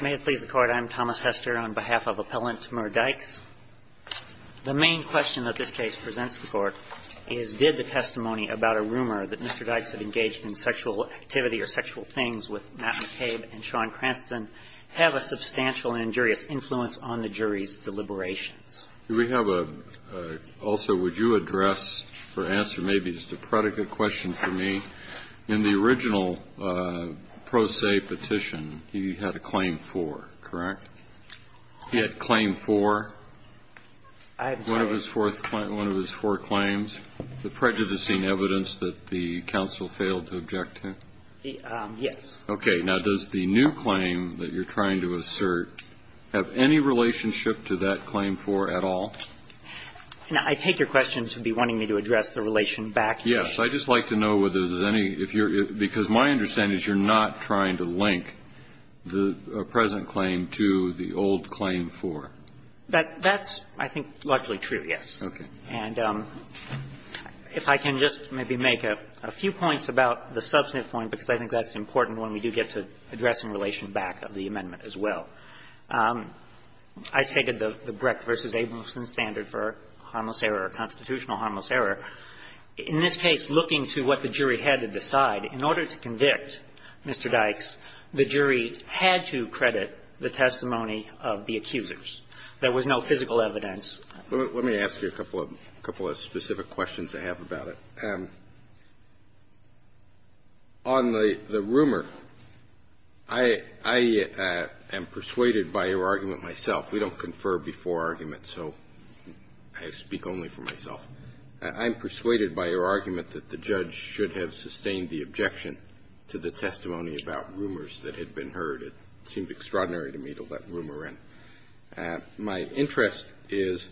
May it please the Court, I'm Thomas Hester on behalf of Appellant Murr Dykes. The main question that this case presents the Court is did the testimony about a rumor that Mr. Dykes had engaged in sexual activity or sexual things with Matt McCabe and Sean Cranston have a substantial and injurious influence on the jury's deliberations? Do we have a also would you address or answer maybe just a predicate question for me? In the original pro se petition, he had a claim for, correct? He had a claim for one of his four claims, the prejudicing evidence that the counsel failed to object to? Yes. Okay. Now, does the new claim that you're trying to assert have any relationship to that claim for at all? I take your question to be wanting me to address the relation back. Yes. I'd just like to know whether there's any, if you're, because my understanding is you're not trying to link the present claim to the old claim for. That's, I think, largely true, yes. Okay. And if I can just maybe make a few points about the substantive point, because I think that's important when we do get to addressing the relation back of the amendment as well. I stated the Brecht v. Abelson standard for harmless error or constitutional harmless error. In this case, looking to what the jury had to decide, in order to convict Mr. Dykes, the jury had to credit the testimony of the accusers. There was no physical evidence. Let me ask you a couple of specific questions I have about it. On the rumor, I am persuaded by your argument myself. We don't confer before arguments, so I speak only for myself. I'm persuaded by your argument that the judge should have sustained the objection to the testimony about rumors that had been heard. It seemed extraordinary to me to let rumor in. My interest is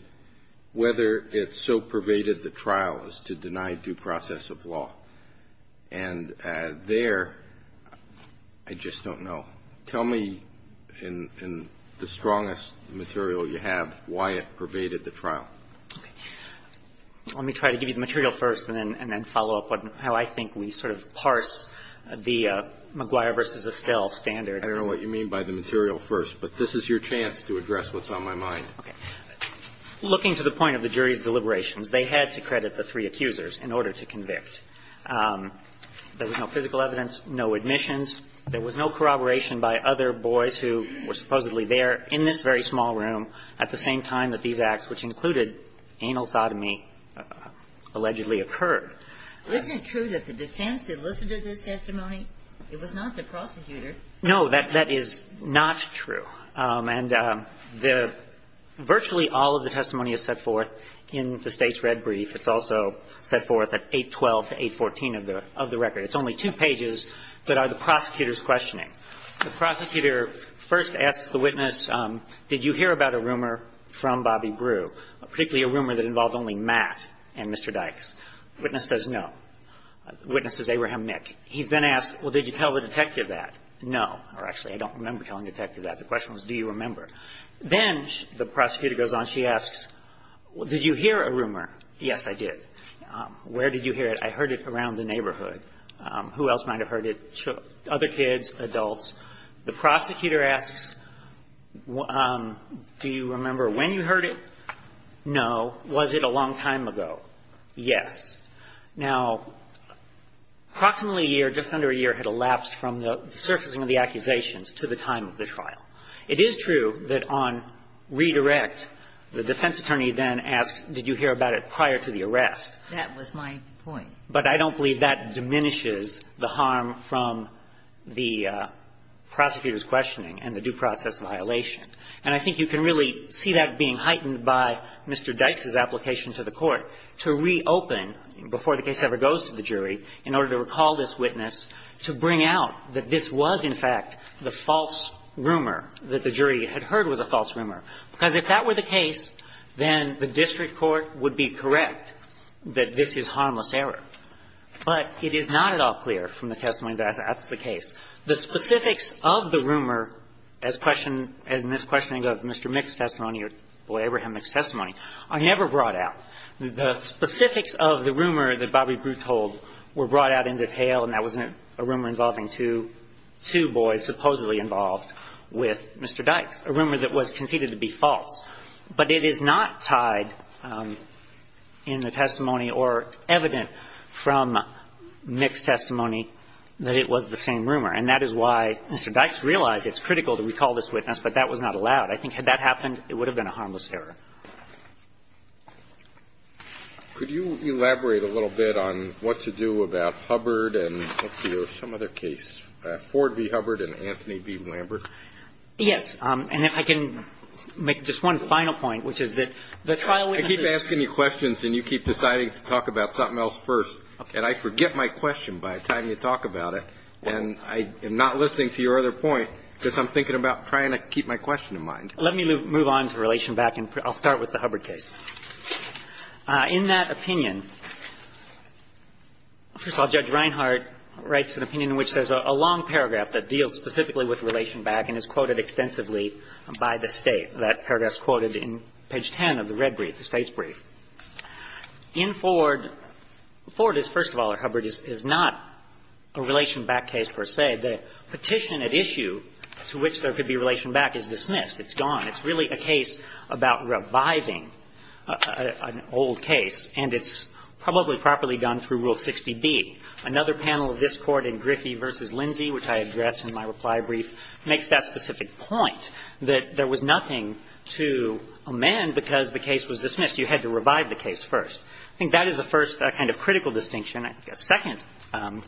whether it so pervaded the trial as to deny due process of law. And there, I just don't know. Tell me in the strongest material you have why it pervaded the trial. Let me try to give you the material first and then follow up on how I think we sort of parse the McGuire v. Estelle standard. I don't know what you mean by the material first, but this is your chance to address what's on my mind. Okay. Looking to the point of the jury's deliberations, they had to credit the three accusers in order to convict. There was no physical evidence, no admissions. There was no corroboration by other boys who were supposedly there in this very small room at the same time that these acts, which included anal sodomy, allegedly occurred. Isn't it true that the defense elicited this testimony? It was not the prosecutor. No, that is not true. And virtually all of the testimony is set forth in the State's red brief. It's also set forth at 812 to 814 of the record. It's only two pages that are the prosecutor's questioning. The prosecutor first asks the witness, did you hear about a rumor from Bobby Brew, particularly a rumor that involved only Matt and Mr. Dykes? The witness says no. The witness says Abraham Nick. He's then asked, well, did you tell the detective that? No. Or actually, I don't remember telling the detective that. The question was, do you remember? Then the prosecutor goes on, she asks, did you hear a rumor? Yes, I did. Where did you hear it? I heard it around the neighborhood. Who else might have heard it? Other kids, adults. The prosecutor asks, do you remember when you heard it? No. Was it a long time ago? Yes. Now, approximately a year, just under a year, had elapsed from the surfacing of the accusations to the time of the trial. It is true that on redirect, the defense attorney then asks, did you hear about it prior to the arrest? That was my point. But I don't believe that diminishes the harm from the prosecutor's questioning and the due process violation. And I think you can really see that being heightened by Mr. Dykes' application to the Court to reopen before the case ever goes to the jury in order to recall this witness, to bring out that this was, in fact, the false rumor that the jury had heard was a false rumor, because if that were the case, then the district court would be correct that this is harmless error. But it is not at all clear from the testimony that that's the case. The specifics of the rumor, as questioned as in this questioning of Mr. Mick's testimony or Boyd-Abraham-Mick's testimony, are never brought out. The specifics of the rumor that Bobby Brew told were brought out in detail, and that was a rumor involving two boys supposedly involved with Mr. Dykes, a rumor that was conceded to be false. But it is not tied in the testimony or evident from Mick's testimony that it was the same rumor. And that is why Mr. Dykes realized it's critical to recall this witness, but that was not allowed. I think had that happened, it would have been a harmless error. Kennedy. Could you elaborate a little bit on what to do about Hubbard and, let's see, there was some other case, Ford v. Hubbard and Anthony v. Lambert? Yes. And if I can make just one final point, which is that the trial witnesses I keep asking you questions and you keep deciding to talk about something else first. And I forget my question by the time you talk about it. And I am not listening to your other point because I'm thinking about trying to keep my question in mind. Let me move on to Relation Back and I'll start with the Hubbard case. In that opinion, first of all, Judge Reinhart writes an opinion in which there's a long paragraph that deals specifically with Relation Back and is quoted extensively by the State. That paragraph is quoted in page 10 of the red brief, the State's brief. In Ford, Ford is, first of all, or Hubbard is not a Relation Back case per se. The petition at issue to which there could be Relation Back is dismissed. It's gone. It's really a case about reviving an old case and it's probably properly done through Rule 60b. Another panel of this Court in Griffey v. Lindsay, which I address in my reply brief, makes that specific point, that there was nothing to amend because the case was dismissed. You had to revive the case first. I think that is the first kind of critical distinction. A second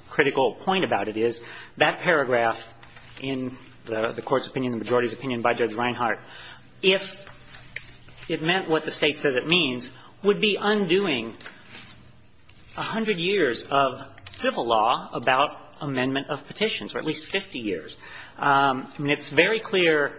critical point about it is that paragraph in the Court's opinion, the majority's opinion by Judge Reinhart, if it meant what the State says it means, would be undoing a hundred years of civil law about amendment of petitions, or at least 50 years. And it's very clear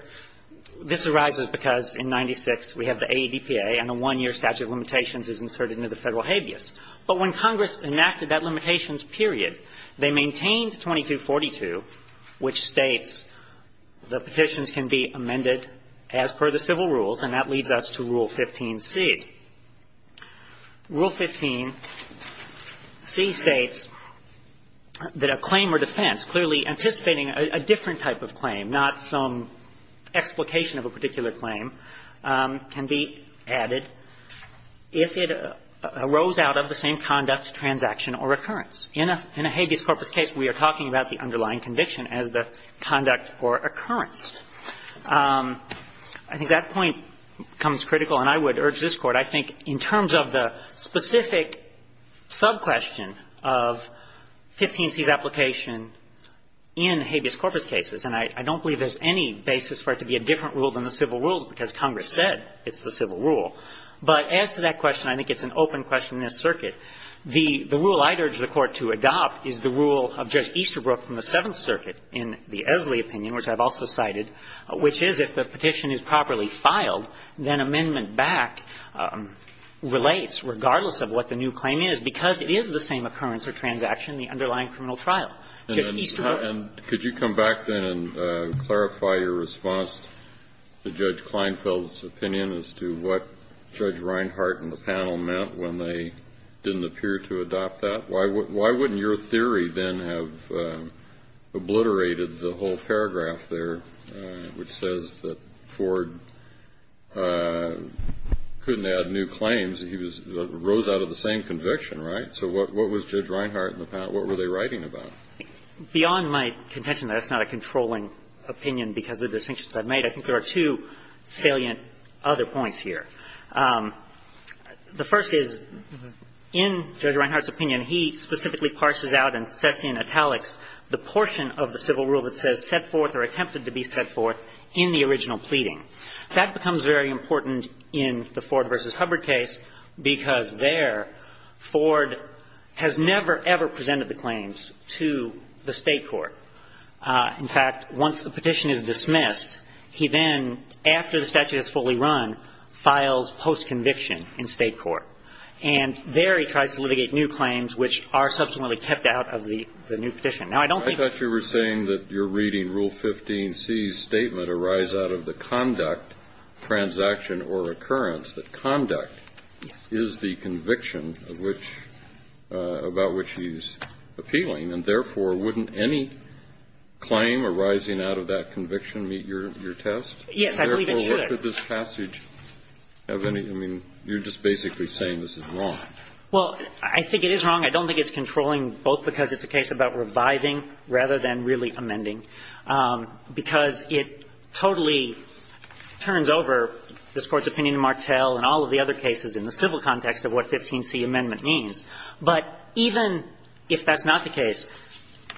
this arises because in 96 we have the AEDPA and the one-year statute of limitations is inserted into the Federal habeas. But when Congress enacted that limitations period, they maintained 2242, which states the petitions can be amended as per the civil rules, and that leads us to Rule 15c. Rule 15c states that a claim or defense clearly anticipating a different type of claim, not some explication of a particular claim, can be added if it arose out of the same conduct, transaction, or occurrence. In a habeas corpus case, we are talking about the underlying conviction as the conduct or occurrence. I think that point becomes critical, and I would urge this Court, I think in terms of the specific sub-question of 15c's application in habeas corpus cases, and I don't believe there's any basis for it to be a different rule than the civil rules because Congress said it's the civil rule. But as to that question, I think it's an open question in this circuit. The rule I'd urge the Court to adopt is the rule of Judge Easterbrook from the Seventh Degree Opinion, which I've also cited, which is if the petition is properly filed, then amendment back relates regardless of what the new claim is, because it is the same occurrence or transaction in the underlying criminal trial. Kennedy, could you come back then and clarify your response to Judge Kleinfeld's opinion as to what Judge Reinhardt and the panel meant when they didn't appear to adopt that? Why wouldn't your theory then have obliterated the whole paragraph there which says that Ford couldn't add new claims, he rose out of the same conviction, right? So what was Judge Reinhardt and the panel, what were they writing about? Beyond my contention that that's not a controlling opinion because of the distinctions I've made, I think there are two salient other points here. The first is, in Judge Reinhardt's opinion, he specifically parses out and sets in italics the portion of the civil rule that says set forth or attempted to be set forth in the original pleading. That becomes very important in the Ford v. Hubbard case because there, Ford has never, ever presented the claims to the State court. In fact, once the petition is dismissed, he then, after the statute is fully run, files post-conviction in State court. And there he tries to litigate new claims which are subsequently kept out of the new petition. Now, I don't think that's the case. Kennedy, I thought you were saying that you're reading Rule 15c's statement arise out of the conduct, transaction, or occurrence, that conduct is the conviction of which, about which he's appealing, and therefore, wouldn't any claim arising out of that conviction meet your test? Yes, I believe it should. Kennedy, I don't think that this passage of any of it, I mean, you're just basically saying this is wrong. Well, I think it is wrong. I don't think it's controlling both because it's a case about reviving rather than really amending, because it totally turns over this Court's opinion in Martel and all of the other cases in the civil context of what 15c amendment means. But even if that's not the case,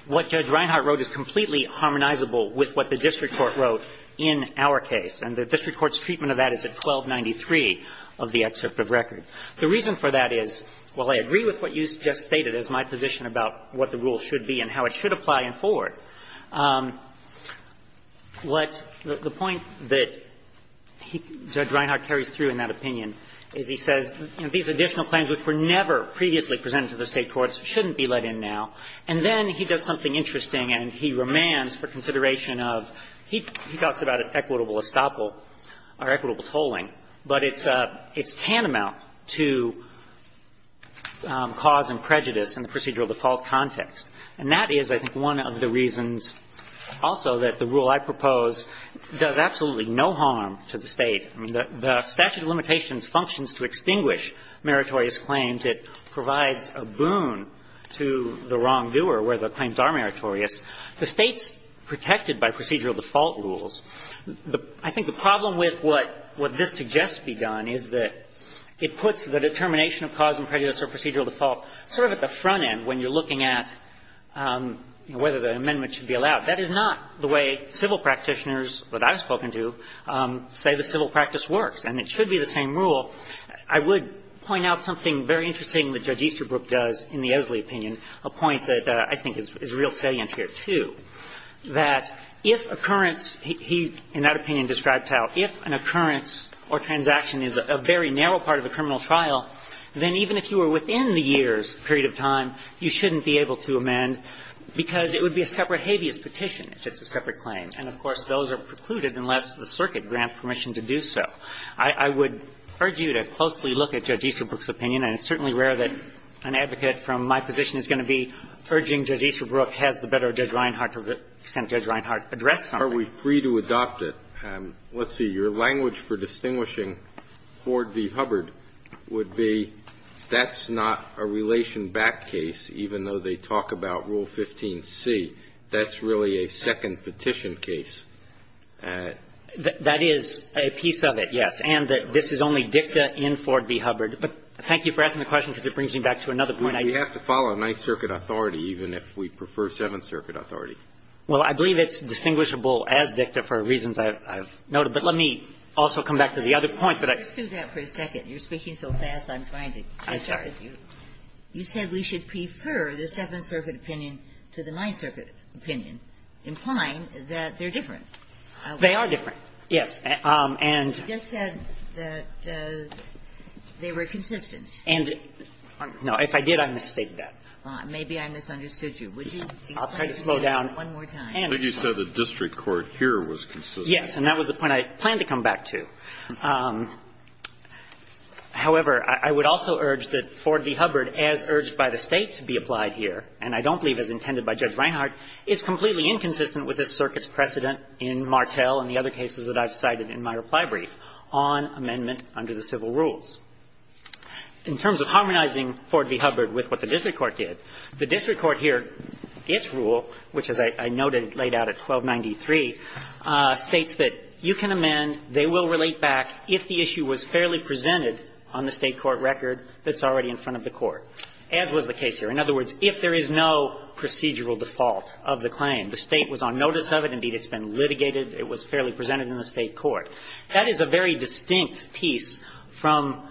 what Judge Reinhardt wrote is completely harmonizable with what the district court wrote in our case. And the district court's treatment of that is at 1293 of the excerpt of record. The reason for that is, while I agree with what you just stated as my position about what the rule should be and how it should apply in Ford, what the point that Judge Reinhardt carries through in that opinion is he says, you know, these additional claims which were never previously presented to the State courts shouldn't be let in now. And then he does something interesting, and he remands for consideration of he talks about an equitable estoppel, or equitable tolling, but it's tantamount to cause and prejudice in the procedural default context. And that is, I think, one of the reasons also that the rule I propose does absolutely no harm to the State. I mean, the statute of limitations functions to extinguish meritorious claims. It provides a boon to the wrongdoer where the claims are meritorious. The State's protected by procedural default rules. I think the problem with what this suggests be done is that it puts the determination of cause and prejudice or procedural default sort of at the front end when you're looking at whether the amendment should be allowed. That is not the way civil practitioners, that I've spoken to, say the civil practice works, and it should be the same rule. I would point out something very interesting that Judge Easterbrook does in the Oesley opinion, a point that I think is real salient here, too, that if occurrence he, in that opinion, describes how if an occurrence or transaction is a very narrow part of a criminal trial, then even if you were within the year's period of time, you shouldn't be able to amend because it would be a separate habeas petition if it's a separate claim. And of course, those are precluded unless the circuit grants permission to do so. I would urge you to closely look at Judge Easterbrook's opinion, and it's certainly rare that an advocate from my position is going to be urging Judge Easterbrook, has the better of Judge Reinhart to let Judge Reinhart address something. Are we free to adopt it? Let's see, your language for distinguishing Ford v. Hubbard would be that's not a relation-backed case, even though they talk about Rule 15c. That's really a second petition case. That is a piece of it, yes, and this is only dicta in Ford v. Hubbard. But thank you for asking the question because it brings me back to another point. I do have to follow Ninth Circuit authority, even if we prefer Seventh Circuit authority. Well, I believe it's distinguishable as dicta for reasons I've noted. But let me also come back to the other point that I've said. You said we should prefer the Seventh Circuit opinion to the Ninth Circuit opinion, implying that they're different. They are different, yes. And they were consistent. And no, if I did, I've misstated that. Maybe I misunderstood you. I'll try to slow down. I think you said the district court here was consistent. Yes, and that was the point I planned to come back to. However, I would also urge that Ford v. Hubbard, as urged by the State to be applied here, and I don't believe as intended by Judge Reinhart, is completely inconsistent with this Circuit's precedent in Martel and the other cases that I've cited in my reply brief on amendment under the civil rules. In terms of harmonizing Ford v. Hubbard with what the district court did, the district court here, its rule, which as I noted laid out at 1293, states that you can amend, they will relate back if the issue was fairly presented on the State court record that's already in front of the court, as was the case here. In other words, if there is no procedural default of the claim, the State was on notice of it, indeed it's been litigated, it was fairly presented in the State court. That is a very distinct piece from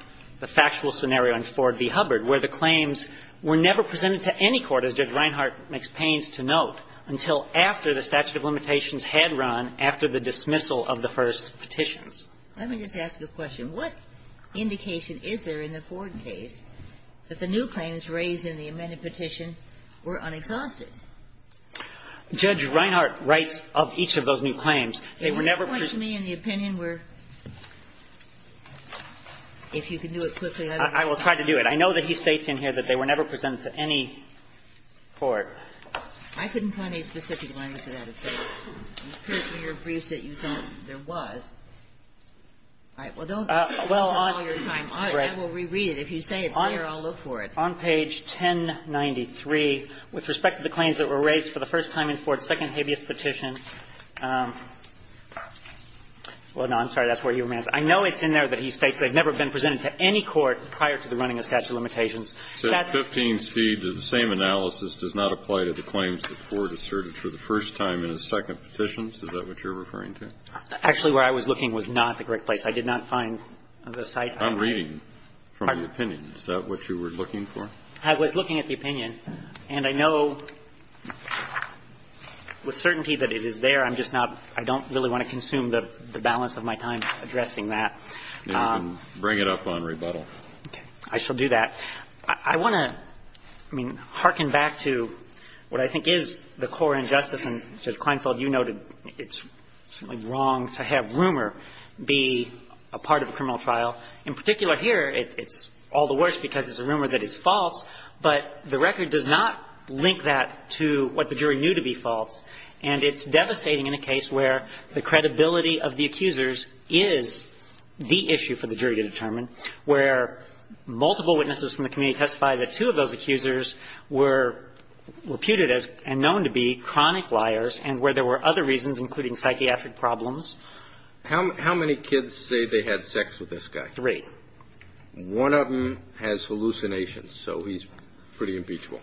the factual scenario in Ford v. Hubbard, where the claims were never presented to any court, as Judge Reinhart makes pains to note, until after the statute of limitations had run after the dismissal of the first petitions. Let me just ask you a question. What indication is there in the Ford case that the new claims raised in the amended petition were unexhausted? Judge Reinhart writes of each of those new claims. They were never presented to any court. Can you point to me an opinion where, if you can do it quickly, I will try to do it. I know that he states in here that they were never presented to any court. I couldn't find a specific line to that. It appears in your briefs that you thought there was. All right. Well, don't give us all your time. And we'll reread it. If you say it's here, I'll look for it. On page 1093, with respect to the claims that were raised for the first time in Ford's second habeas petition, well, no, I'm sorry, that's where you were, ma'am. I know it's in there that he states they've never been presented to any court prior to the running of statute of limitations. That's the same analysis does not apply to the claims that Ford asserted for the first time in his second petitions? Is that what you're referring to? Actually, where I was looking was not the correct place. I did not find the site. I'm reading from the opinion. Is that what you were looking for? I was looking at the opinion. And I know with certainty that it is there. I'm just not – I don't really want to consume the balance of my time addressing that. Then bring it up on rebuttal. Okay. I shall do that. I want to, I mean, hearken back to what I think is the core injustice. And Judge Kleinfeld, you noted it's wrong to have rumor be a part of a criminal trial. In particular here, it's all the worse because it's a rumor that is false, but the record does not link that to what the jury knew to be false. And it's devastating in a case where the credibility of the accusers is the issue for the jury to determine, where multiple witnesses from the community testified that two of those accusers were reputed as and known to be chronic liars and where there were other reasons, including psychiatric problems. How many kids say they had sex with this guy? Three. One of them has hallucinations, so he's pretty imbecile.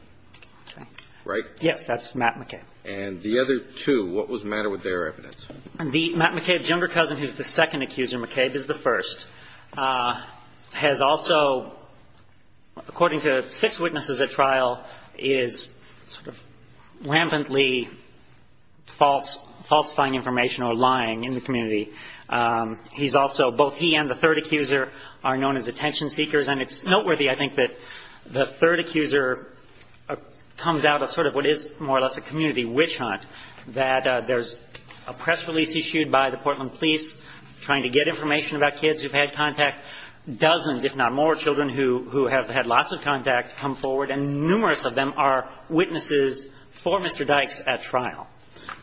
Right? Yes. That's Matt McCabe. And the other two, what was the matter with their evidence? The Matt McCabe's younger cousin, who's the second accuser, McCabe, is the first, has also, according to six witnesses at trial, is sort of rampantly falsifying information or lying in the community. He's also, both he and the third accuser are known as attention seekers. And it's noteworthy, I think, that the third accuser comes out of sort of what is more or less a community witch hunt, that there's a press release issued by the community witch hunt, which is a group of people who have had contact, dozens, if not more, children who have had lots of contact come forward. And numerous of them are witnesses for Mr. Dykes at trial.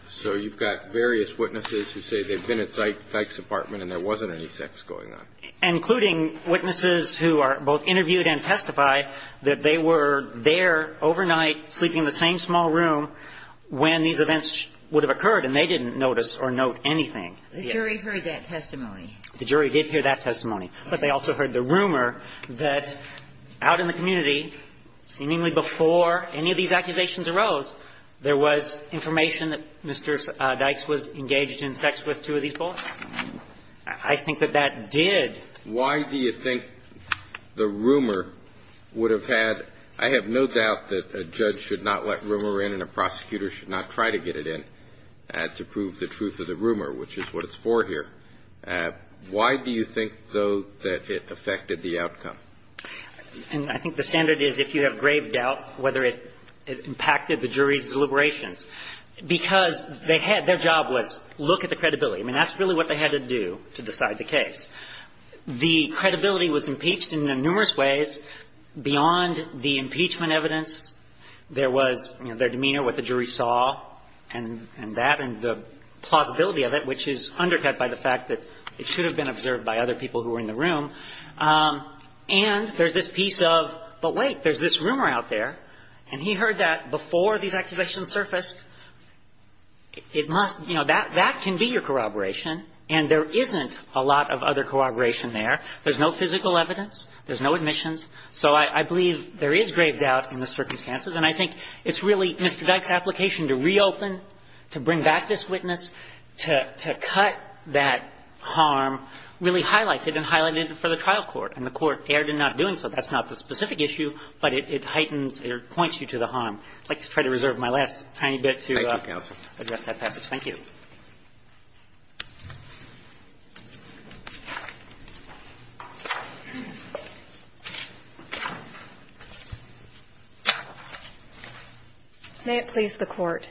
So you've got various witnesses who say they've been at Dyke's apartment and there wasn't any sex going on. Including witnesses who are both interviewed and testify that they were there overnight sleeping in the same small room when these events would have occurred and they didn't notice or note anything. The jury heard that testimony. The jury did hear that testimony. But they also heard the rumor that out in the community, seemingly before any of these accusations arose, there was information that Mr. Dykes was engaged in sex with two of these boys. I think that that did. Why do you think the rumor would have had – I have no doubt that a judge should not let rumor in and a prosecutor should not try to get it in to prove the truth of the rumor, which is what it's for here. Why do you think, though, that it affected the outcome? And I think the standard is if you have grave doubt whether it impacted the jury's deliberations. Because they had – their job was look at the credibility. I mean, that's really what they had to do to decide the case. The credibility was impeached in numerous ways beyond the impeachment evidence. There was their demeanor, what the jury saw, and that, and the plausibility of it, which is undercut by the fact that it should have been observed by other people who were in the room. And there's this piece of, but wait, there's this rumor out there. And he heard that before these accusations surfaced. It must – you know, that can be your corroboration. And there isn't a lot of other corroboration there. There's no physical evidence. There's no admissions. So I believe there is grave doubt in the circumstances. And I think it's really Mr. Dyke's application to reopen, to bring back this witness, to cut that harm really highlights it and highlighted it for the trial court. And the Court erred in not doing so. That's not the specific issue, but it heightens or points you to the harm. I'd like to try to reserve my last tiny bit to address that passage. Thank you. May it please the Court.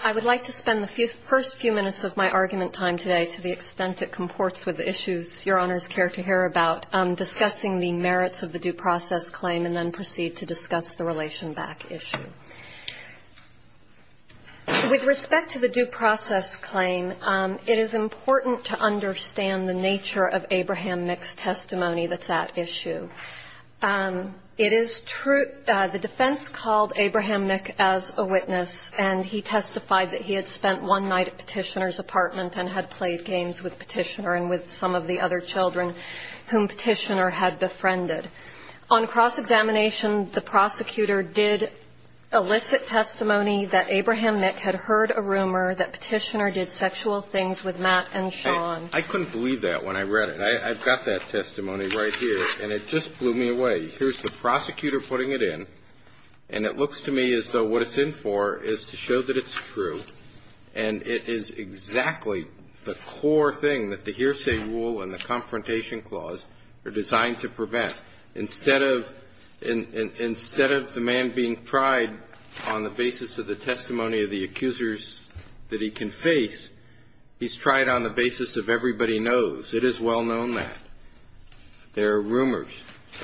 I would like to spend the first few minutes of my argument time today, to the extent it comports with the issues Your Honors care to hear about, discussing the merits of the due process claim and then proceed to discuss the relation back issue. With respect to the due process claim, it is important to understand the nature of Abraham Nick's testimony that's at issue. It is true – the defense called Abraham Nick as a witness and he testified that he had spent one night at Petitioner's apartment and had played games with Petitioner and with some of the other children whom Petitioner had befriended. On cross-examination, the prosecutor did elicit testimony that Abraham Nick had heard a rumor that Petitioner did sexual things with Matt and Sean. I couldn't believe that when I read it. I've got that testimony right here, and it just blew me away. Here's the prosecutor putting it in, and it looks to me as though what it's in for is to show that it's true, and it is exactly the core thing that the hearsay rule and the confrontation clause are designed to prevent. Instead of – instead of the man being tried on the basis of the testimony of the accusers that he can face, he's tried on the basis of everybody knows. It is well-known that. There are rumors.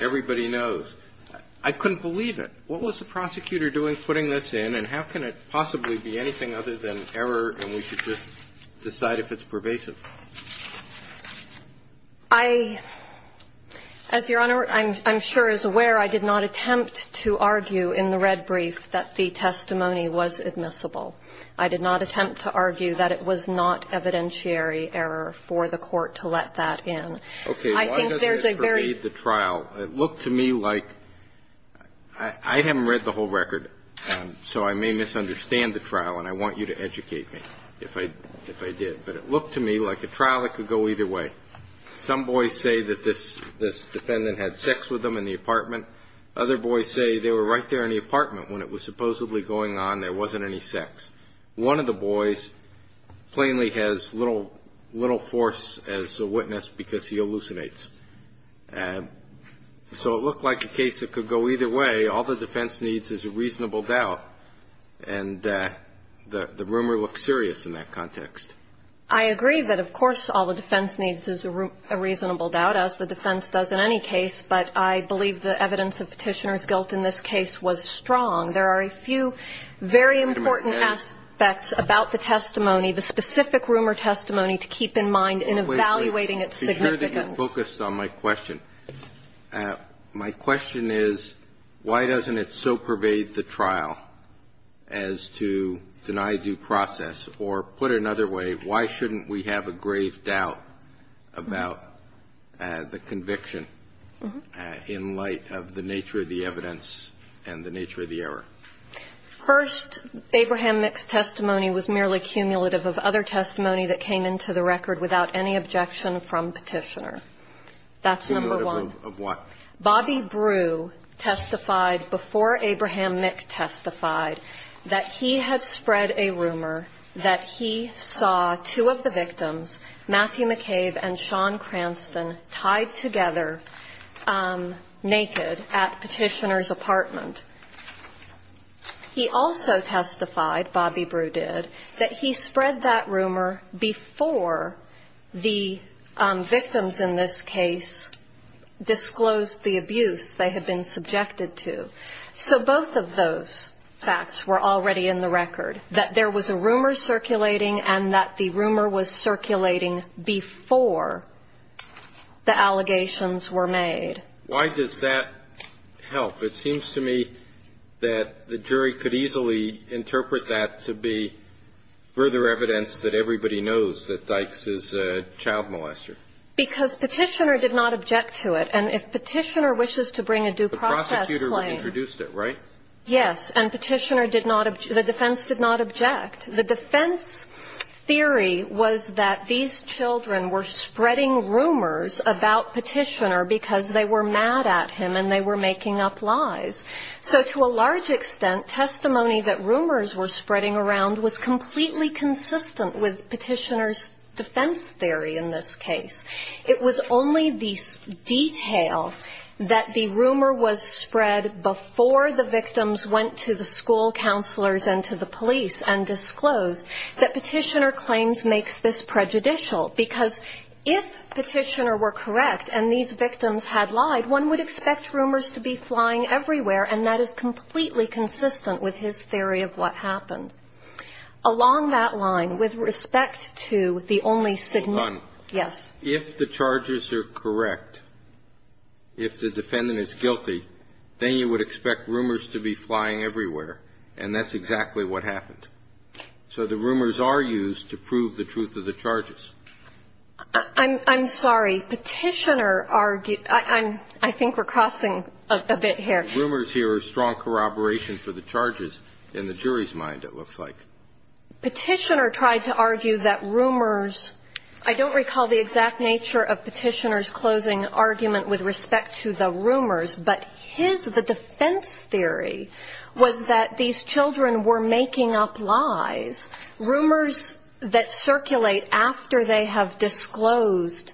Everybody knows. I couldn't believe it. What was the prosecutor doing putting this in, and how can it possibly be anything other than error and we should just decide if it's pervasive? I – as Your Honor, I'm sure is aware, I did not attempt to argue in the red brief that the testimony was admissible. I did not attempt to argue that it was not evidentiary error for the Court to let that in. I think there's a very – Okay. Why doesn't this pervade the trial? It looked to me like – I haven't read the whole record, so I may misunderstand the trial, and I want you to educate me if I – if I did. But it looked to me like a trial that could go either way. Some boys say that this defendant had sex with them in the apartment. Other boys say they were right there in the apartment when it was supposedly going on. There wasn't any sex. One of the boys plainly has little force as a witness because he hallucinates. So it looked like a case that could go either way. All the defense needs is a reasonable doubt, and the rumor looked serious in that context. I agree that, of course, all the defense needs is a reasonable doubt, as the defense does in any case. But I believe the evidence of Petitioner's guilt in this case was strong. There are a few very important aspects about the testimony, the specific rumor testimony, to keep in mind in evaluating its significance. Wait. Make sure that you're focused on my question. My question is, why doesn't it so pervade the trial as to deny due process? Or put another way, why shouldn't we have a grave doubt about the conviction in light of the nature of the evidence and the nature of the error? First, Abraham Mick's testimony was merely cumulative of other testimony that came into the record without any objection from Petitioner. That's number one. Cumulative of what? Bobby Brew testified before Abraham Mick testified that he had spread a rumor that he saw two of the victims, Matthew McCabe and Sean Cranston, tied together naked at Petitioner's apartment. He also testified, Bobby Brew did, that he spread that rumor before the victims in this case disclosed the abuse they had been subjected to. So both of those facts were already in the record, that there was a rumor circulating and that the rumor was circulating before the allegations were made. Why does that help? It seems to me that the jury could easily interpret that to be further evidence that everybody knows that Dykes is a child molester. Because Petitioner did not object to it. And if Petitioner wishes to bring a due process claim. The prosecutor introduced it, right? Yes. And Petitioner did not object. The defense did not object. The defense theory was that these children were spreading rumors about Petitioner because they were mad at him and they were making up lies. So to a large extent, testimony that rumors were spreading around was completely consistent with Petitioner's defense theory in this case. It was only the detail that the rumor was spread before the victims went to the school counselors and to the police and disclosed that Petitioner claims makes this prejudicial. Because if Petitioner were correct and these victims had lied, one would expect rumors to be flying everywhere. And that is completely consistent with his theory of what happened. Along that line, with respect to the only significant Yes. If the charges are correct, if the defendant is guilty, then you would expect rumors to be flying everywhere, and that's exactly what happened. So the rumors are used to prove the truth of the charges. I'm sorry. Petitioner argued – I think we're crossing a bit here. Rumors here are strong corroboration for the charges in the jury's mind, it looks like. Petitioner tried to argue that rumors – I don't recall the exact nature of Petitioner's closing argument with respect to the rumors. But his – the defense theory was that these children were making up lies. Rumors that circulate after they have disclosed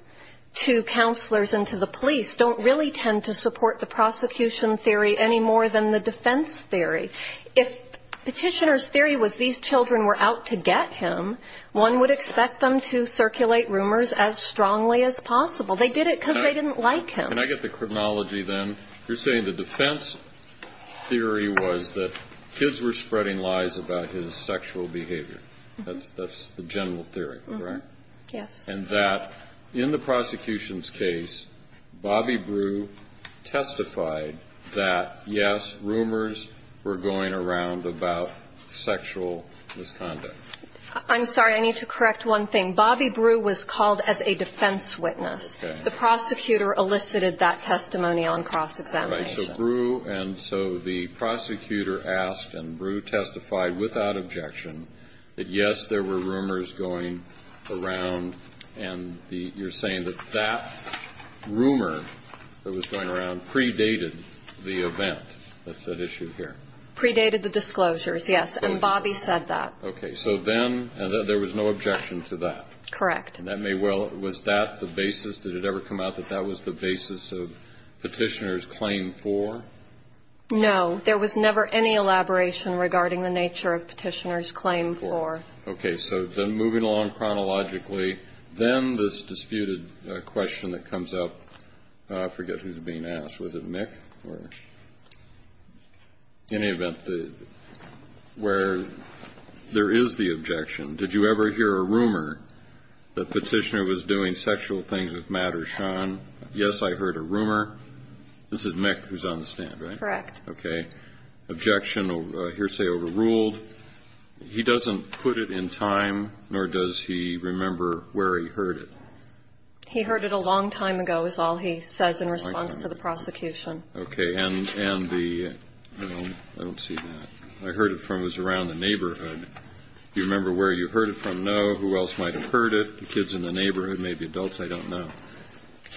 to counselors and to the police don't really tend to support the prosecution theory any more than the defense theory. If Petitioner's theory was these children were out to get him, one would expect them to circulate rumors as strongly as possible. They did it because they didn't like him. Can I get the chronology then? You're saying the defense theory was that kids were spreading lies about his sexual behavior. That's the general theory, correct? Yes. And that in the prosecution's case, Bobby Brew testified that, yes, rumors were going around about sexual misconduct. I'm sorry. I need to correct one thing. Bobby Brew was called as a defense witness. The prosecutor elicited that testimony on cross-examination. Right. So Brew – and so the prosecutor asked, and Brew testified without objection, that, yes, there were rumors going around and you're saying that that rumor that was going around predated the event that's at issue here. Predated the disclosures, yes. And Bobby said that. Okay. So then there was no objection to that. Correct. And that may well – was that the basis? Did it ever come out that that was the basis of Petitioner's claim for? No. There was never any elaboration regarding the nature of Petitioner's claim for. Okay. So then moving along chronologically, then this disputed question that comes up – I forget who's being asked. Was it Mick or any event where there is the objection? Did you ever hear a rumor that Petitioner was doing sexual things with Matt or Sean? Yes, I heard a rumor. This is Mick who's on the stand, right? Correct. Okay. Objection hearsay overruled. He doesn't put it in time, nor does he remember where he heard it. He heard it a long time ago is all he says in response to the prosecution. Okay. And the – I don't see that. I heard it from – it was around the neighborhood. Do you remember where you heard it from? No. Who else might have heard it? The kids in the neighborhood, maybe adults? I don't know.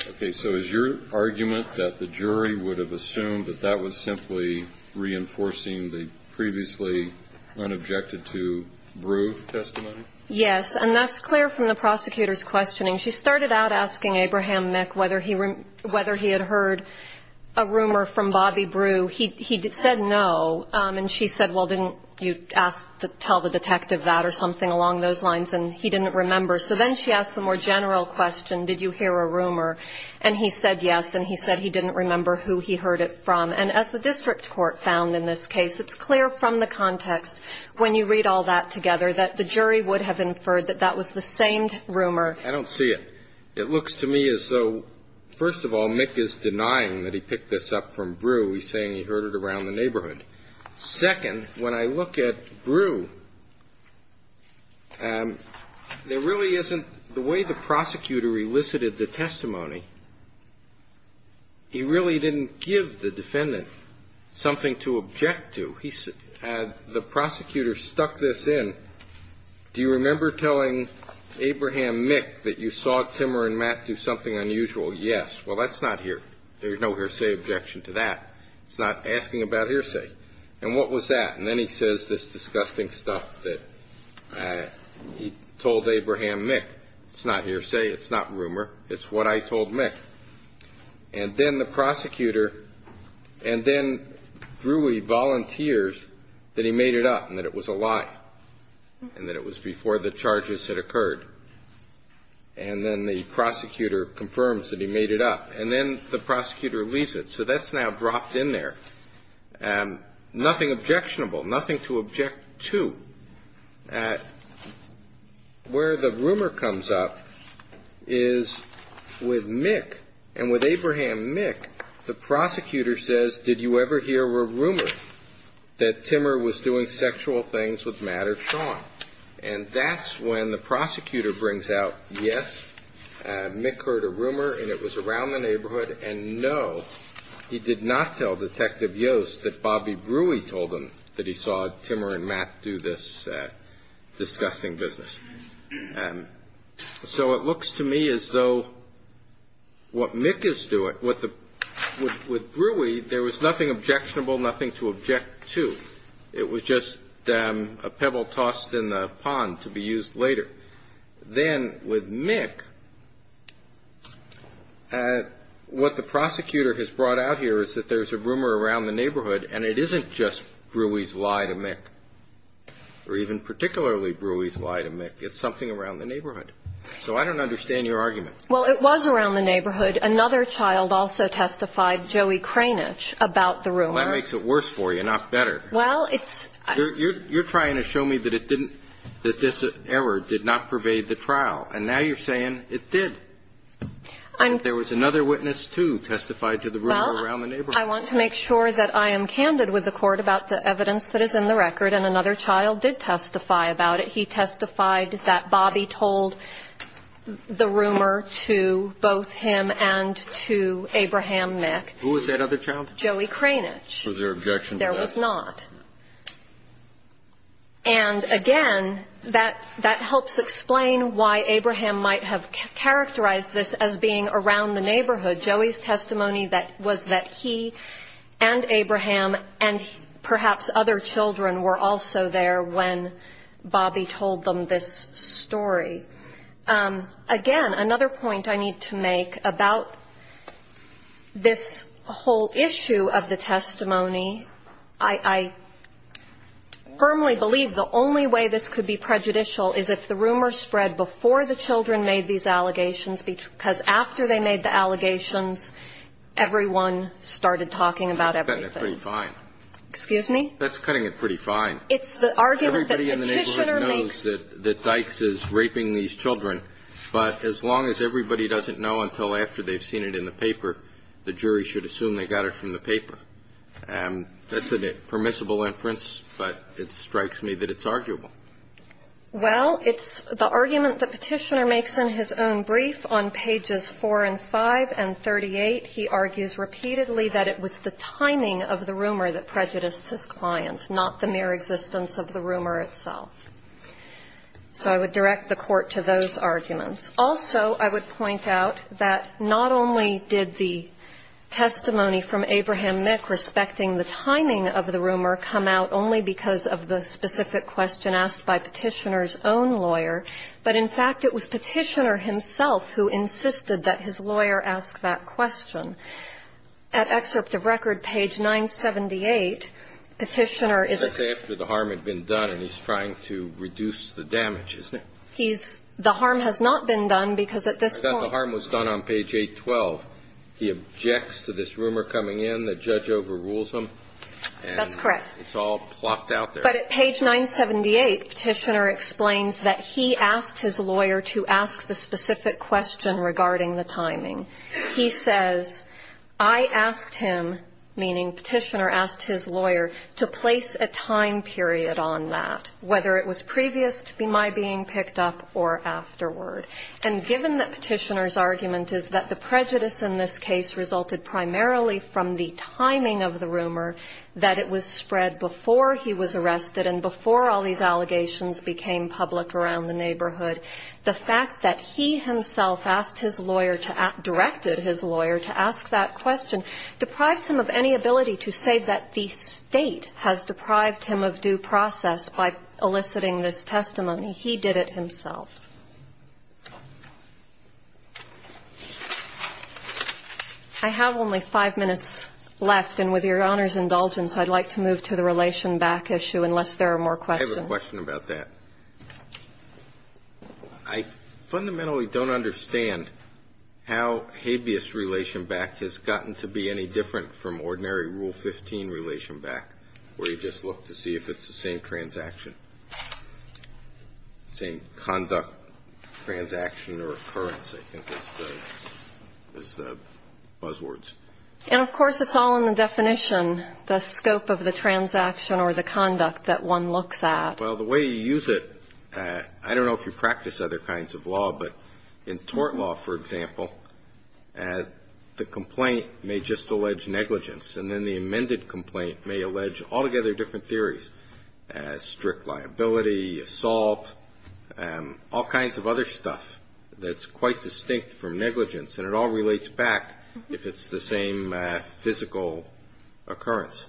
Okay. So is your argument that the jury would have assumed that that was simply reinforcing the previously unobjected to Breugh testimony? Yes. And that's clear from the prosecutor's questioning. She started out asking Abraham Mick whether he had heard a rumor from Bobby Breugh. He said no, and she said, well, didn't you ask to tell the detective that or something along those lines? And he didn't remember. So then she asked the more general question, did you hear a rumor? And he said yes, and he said he didn't remember who he heard it from. And as the district court found in this case, it's clear from the context when you read all that together that the jury would have inferred that that was the same rumor. I don't see it. It looks to me as though, first of all, Mick is denying that he picked this up from Breugh. He's saying he heard it around the neighborhood. Second, when I look at Breugh, there really isn't the way the prosecutor elicited the testimony. He really didn't give the defendant something to object to. He said the prosecutor stuck this in. Do you remember telling Abraham Mick that you saw Timmer and Matt do something unusual? Yes. Well, that's not hearsay. There's no hearsay objection to that. It's not asking about hearsay. And what was that? And then he says this disgusting stuff that he told Abraham Mick. It's not hearsay. It's not rumor. It's what I told Mick. And then the prosecutor and then Breugh volunteers that he made it up and that it was a lie. And that it was before the charges had occurred. And then the prosecutor confirms that he made it up. And then the prosecutor leaves it. So that's now dropped in there. Nothing objectionable. Nothing to object to. Where the rumor comes up is with Mick and with Abraham Mick, the prosecutor says, did you ever hear a rumor that Timmer was doing sexual things with Matt or Sean? And that's when the prosecutor brings out, yes, Mick heard a rumor and it was around the neighborhood, and no, he did not tell Detective Yost that Bobby Breugh told him that he saw Timmer and Matt do this disgusting business. So it looks to me as though what Mick is doing, with Breugh, there was nothing objectionable, nothing to object to. It was just a pebble tossed in the pond to be used later. Then with Mick, what the prosecutor has brought out here is that there's a rumor around the neighborhood, and it isn't just Breugh's lie to Mick, or even particularly Breugh's lie to Mick. It's something around the neighborhood. So I don't understand your argument. Well, it was around the neighborhood. Another child also testified, Joey Kranich, about the rumor. Well, that makes it worse for you, not better. Well, it's – You're trying to show me that it didn't – that this error did not pervade the trial, and now you're saying it did. There was another witness, too, testified to the rumor around the neighborhood. Well, I want to make sure that I am candid with the Court about the evidence that is in the record, and another child did testify about it. He testified that Bobby told the rumor to both him and to Abraham Mick. Who was that other child? Joey Kranich. Was there objection to that? There was not. And again, that helps explain why Abraham might have characterized this as being around the neighborhood. Joey's testimony was that he and Abraham and perhaps other children were also there when Bobby told them this story. Again, another point I need to make about this whole issue of the testimony. I firmly believe the only way this could be prejudicial is if the rumor spread before the children made these allegations, because after they made the allegations, everyone started talking about everything. That's cutting it pretty fine. Excuse me? That's cutting it pretty fine. It's the argument that Petitioner makes. Everybody in the neighborhood knows that Dykes is raping these children, but as long as everybody doesn't know until after they've seen it in the paper, the jury should assume they got it from the paper. And that's a permissible inference, but it strikes me that it's arguable. Well, it's the argument that Petitioner makes in his own brief on pages 4 and 5 and 38. He argues repeatedly that it was the timing of the rumor that prejudiced his client, not the mere existence of the rumor itself. So I would direct the Court to those arguments. Also, I would point out that not only did the testimony from Abraham Mick respecting the timing of the rumor come out only because of the specific question asked by Petitioner's own lawyer, but, in fact, it was Petitioner himself who insisted that his lawyer ask that question. At excerpt of record, page 978, Petitioner is as- That's after the harm had been done and he's trying to reduce the damage, isn't it? He's- The harm has not been done because at this point- The harm was done on page 812. He objects to this rumor coming in, the judge overrules him, and- That's correct. It's all plopped out there. But at page 978, Petitioner explains that he asked his lawyer to ask the specific question regarding the timing. He says, I asked him, meaning Petitioner asked his lawyer, to place a time period on that, whether it was previous to my being picked up or afterward. And given that Petitioner's argument is that the prejudice in this case resulted primarily from the timing of the rumor, that it was spread before he was arrested and before all these allegations became public around the neighborhood, the fact that he himself asked his lawyer to- directed his lawyer to ask that question deprives him of any ability to say that the State has deprived him of due process by eliciting this testimony. He did it himself. I have only five minutes left. And with Your Honor's indulgence, I'd like to move to the Relation Back issue, unless there are more questions. I have a question about that. I fundamentally don't understand how habeas relation back has gotten to be any different from ordinary Rule 15 relation back, where you just look to see if it's the same transaction, same conduct, transaction, or occurrence, I think is the buzzwords. And of course, it's all in the definition, the scope of the transaction or the conduct that one looks at. Well, the way you use it, I don't know if you practice other kinds of law, but in tort law, for example, the complaint may just allege negligence. And then the amended complaint may allege altogether different theories, strict liability, assault, all kinds of other stuff that's quite distinct from negligence. And it all relates back if it's the same physical occurrence.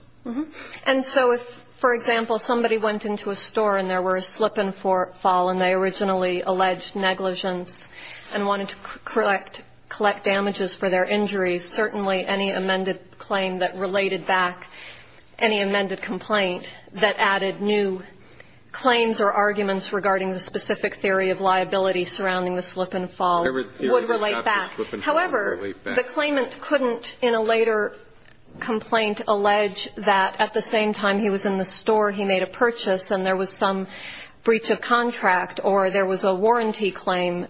And so if, for example, somebody went into a store and there were a slip-and-fall and they originally alleged negligence and wanted to collect damages for their injuries, certainly any amended claim that related back, any amended complaint that added new claims or arguments regarding the specific theory of liability surrounding the slip-and-fall would relate back. However, the claimant couldn't in a later complaint allege that at the same time he was in the store, he made a purchase and there was some breach of contract or there was a warranty claim,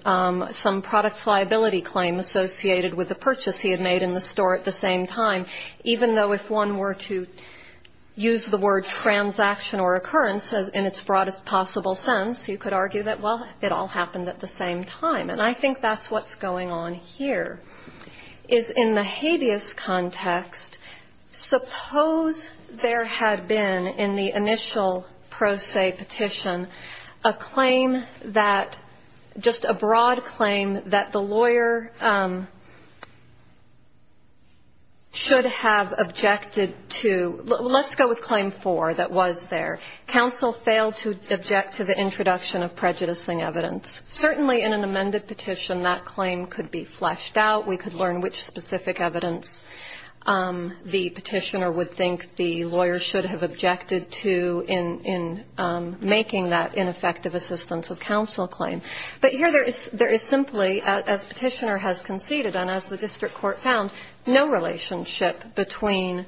some products liability claim associated with the purchase he had made in the store at the same time, even though if one were to use the word transaction or occurrence in its broadest possible sense, you could argue that, well, it all happened at the same time. And I think that's what's going on here, is in the habeas context, suppose there had been in the initial pro se petition a claim that, just a broad claim that the lawyer should have objected to, let's go with claim four that was there. Counsel failed to object to the introduction of prejudicing evidence. Certainly in an amended petition, that claim could be fleshed out. We could learn which specific evidence the petitioner would think the lawyer should have objected to in making that ineffective assistance of counsel claim. But here there is simply, as petitioner has conceded and as the district court found, no relationship between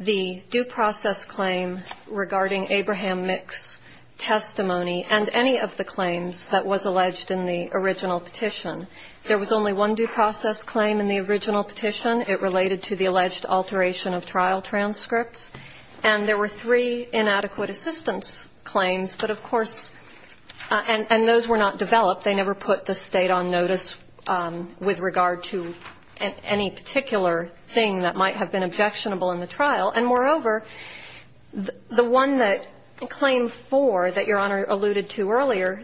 the due process claim regarding Abraham Mick's testimony and any of the claims that was alleged in the original petition. There was only one due process claim in the original petition. It related to the alleged alteration of trial transcripts. And there were three inadequate assistance claims. But of course, and those were not developed. They never put the State on notice with regard to any particular thing that might have been objectionable in the trial. And moreover, the one that claim four that Your Honor alluded to earlier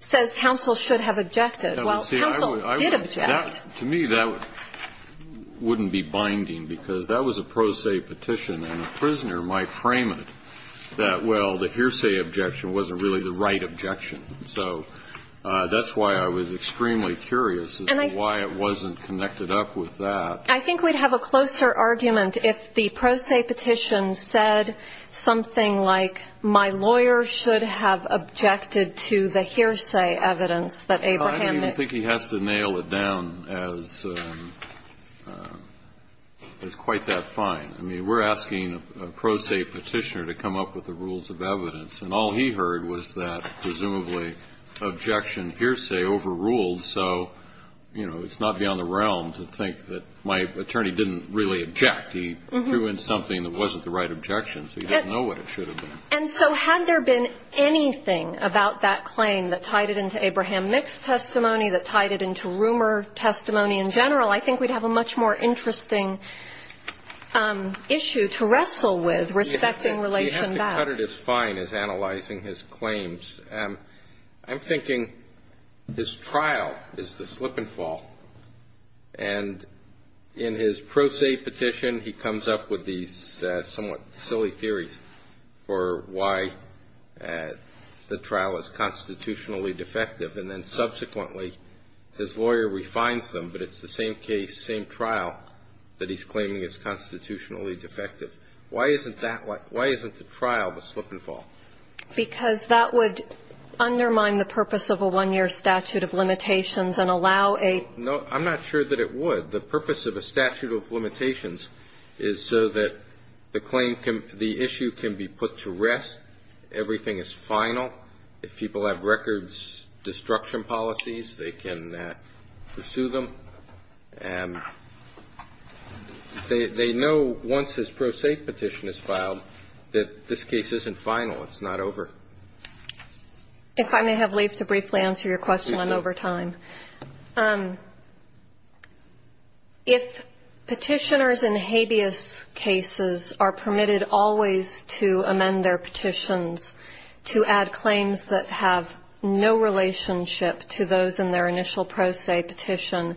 says counsel should have objected, while counsel did object. To me, that wouldn't be binding, because that was a pro se petition. And a prisoner might frame it that, well, the hearsay objection wasn't really the right objection. So that's why I was extremely curious as to why it wasn't connected up with that. I think we'd have a closer argument if the pro se petition said something like my lawyer should have objected to the hearsay evidence that Abraham Mick. I don't even think he has to nail it down as quite that fine. I mean, we're asking a pro se petitioner to come up with the rules of evidence. And all he heard was that presumably objection hearsay overruled. So, you know, it's not beyond the realm to think that my attorney didn't really object. He threw in something that wasn't the right objection. So he didn't know what it should have been. And so had there been anything about that claim that tied it into Abraham Mick's testimony, that tied it into rumor testimony in general, I think we'd have a much more interesting issue to wrestle with respecting relation back. Cut it as fine as analyzing his claims. I'm thinking his trial is the slip and fall. And in his pro se petition, he comes up with these somewhat silly theories for why the trial is constitutionally defective. And then subsequently, his lawyer refines them, but it's the same case, same trial that he's claiming is constitutionally defective. Why isn't that like, why isn't the trial the slip and fall? Because that would undermine the purpose of a one-year statute of limitations and allow a- No, I'm not sure that it would. The purpose of a statute of limitations is so that the claim can, the issue can be put to rest, everything is final. If people have records, destruction policies, they can pursue them. And they know once this pro se petition is filed, that this case isn't final. It's not over. If I may have leave to briefly answer your question, I'm over time. If petitioners in habeas cases are permitted always to amend their petitions to add claims that have no relationship to those in their initial pro se petition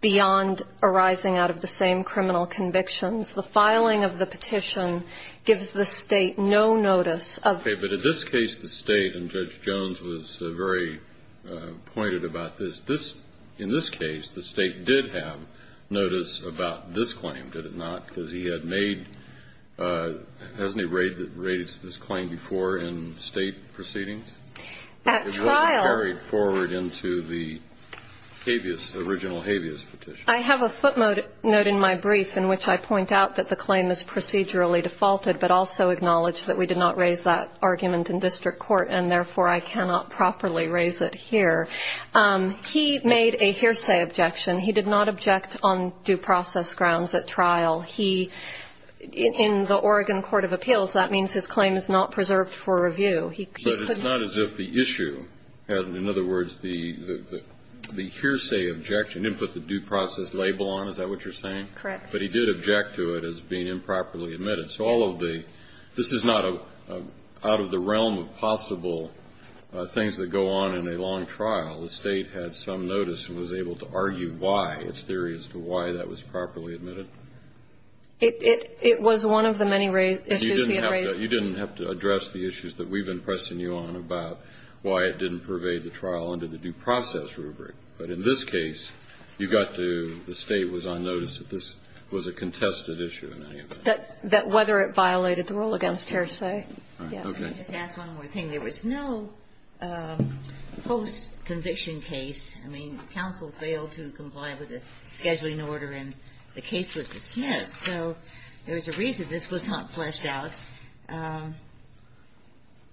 beyond arising out of the same criminal convictions, the filing of the petition gives the state no notice of- Okay, but in this case, the state, and Judge Jones was very pointed about this. In this case, the state did have notice about this claim, did it not? Because he had made, hasn't he raised this claim before in state proceedings? At trial- It wasn't carried forward into the habeas, the original habeas petition. I have a footnote in my brief in which I point out that the claim is procedurally defaulted, but also acknowledge that we did not raise that argument in district court, and therefore I cannot properly raise it here. He made a hearsay objection. He did not object on due process grounds at trial. He, in the Oregon Court of Appeals, that means his claim is not preserved for review. He could- But it's not as if the issue, in other words, the hearsay objection, he didn't put the due process label on, is that what you're saying? Correct. But he did object to it as being improperly admitted. So all of the, this is not out of the realm of possible things that go on in a long trial. The state had some notice and was able to argue why, its theory as to why that was properly admitted. It was one of the many issues he had raised. You didn't have to address the issues that we've been pressing you on about why it didn't pervade the trial under the due process rubric. But in this case, you got to, the state was on notice that this was a contested issue in any event. That whether it violated the rule against hearsay. Yes. Let me just ask one more thing. There was no post-conviction case. I mean, counsel failed to comply with the scheduling order and the case was dismissed. So there was a reason this was not fleshed out.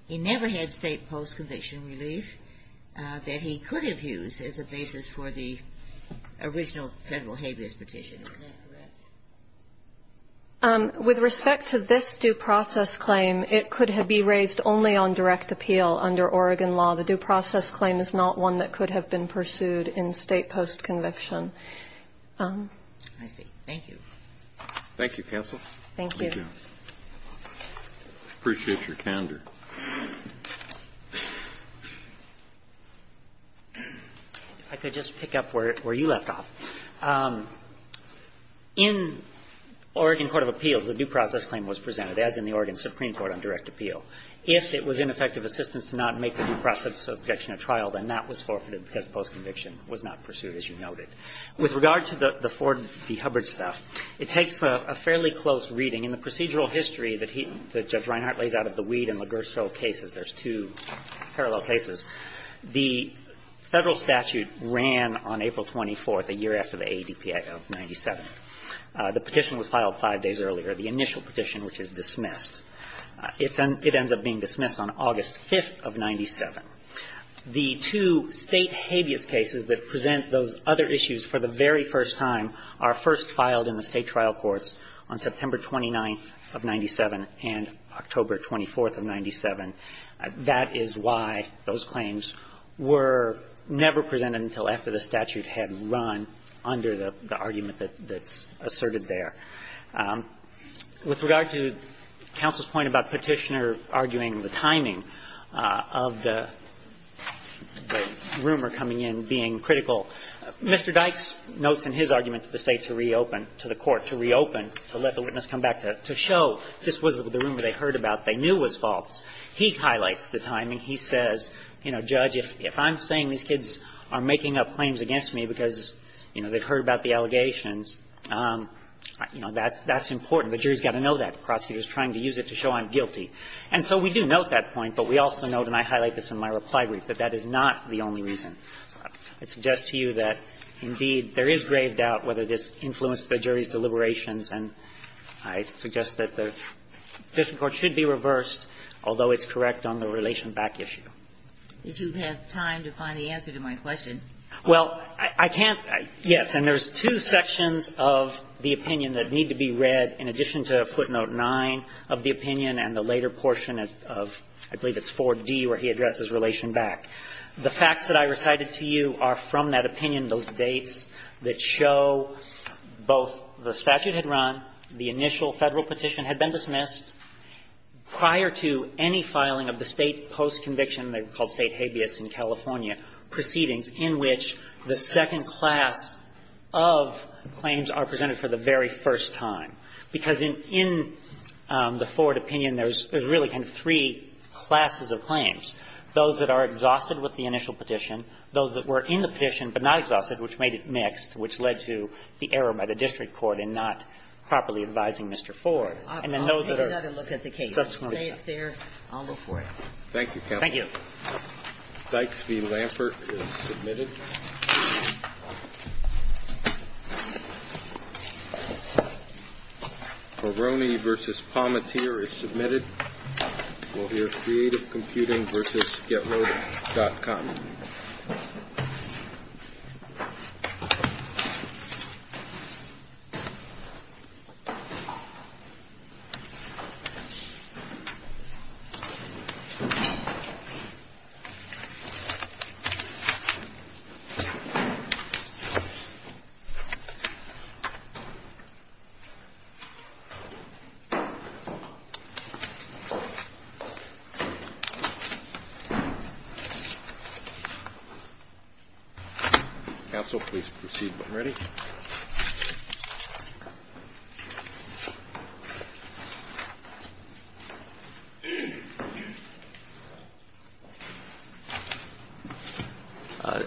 He never had state post-conviction relief that he could have used as a basis for the original Federal habeas petition. Is that correct? With respect to this due process claim, it could have been raised only on direct appeal under Oregon law. The due process claim is not one that could have been pursued in state post-conviction. I see. Thank you. Thank you, counsel. Thank you. Appreciate your candor. If I could just pick up where you left off. In Oregon court of appeals, the due process claim was presented, as in the Oregon Supreme Court on direct appeal. If it was ineffective assistance to not make the due process objection at trial, then that was forfeited because post-conviction was not pursued, as you noted. With regard to the Ford v. Hubbard stuff, it takes a fairly close reading. In the procedural history that he – that Judge Reinhart lays out of the Weed and Ligurso cases, there's two parallel cases, the Federal statute ran on April 24th, a year after the AADPA of 97. The petition was filed five days earlier, the initial petition, which is dismissed. It's an – it ends up being dismissed on August 5th of 97. The two state habeas cases that present those other issues for the very first time are first filed in the state trial courts on September 29th of 97 and October 24th of 97. That is why those claims were never presented until after the statute had run under the argument that's asserted there. With regard to counsel's point about Petitioner arguing the timing of the rumor coming in being critical, Mr. Dykes notes in his argument to the state to reopen to the court, to reopen, to let the witness come back to show this wasn't the rumor they heard about, they knew was false. He highlights the timing. He says, you know, Judge, if I'm saying these kids are making up claims against me because, you know, they've heard about the allegations, you know, that's important. The jury's got to know that. The prosecutor's trying to use it to show I'm guilty. And so we do note that point, but we also note, and I highlight this in my reply brief, that that is not the only reason. I suggest to you that, indeed, there is grave doubt whether this influenced the jury's deliberations, and I suggest that the district court should be reversed, although it's correct on the relation back issue. Ginsburg-Miller Did you have time to find the answer to my question? Well, I can't, yes. And there's two sections of the opinion that need to be read, in addition to footnote 9 of the opinion and the later portion of, I believe it's 4d, where he addresses relation back. The facts that I recited to you are from that opinion, those dates that show both the statute had run, the initial Federal petition had been dismissed, prior to any filing of the State post-conviction, they were called State habeas in California, proceedings in which the second class of claims are presented for the very first time. Because in the Ford opinion, there's really kind of three classes of claims. Those that are exhausted with the initial petition, those that were in the petition but not exhausted, which made it mixed, which led to the error by the district court in not properly advising Mr. Ford. And then those that are stuck with it. I'll take another look at the case. Say it's there, I'll look for it. Thank you, counsel. Thank you. Dykes v. Lampert is submitted. Peroni v. Palmatier is submitted. We'll hear Creative Computing v. getloaded.com. Counsel, please proceed when ready.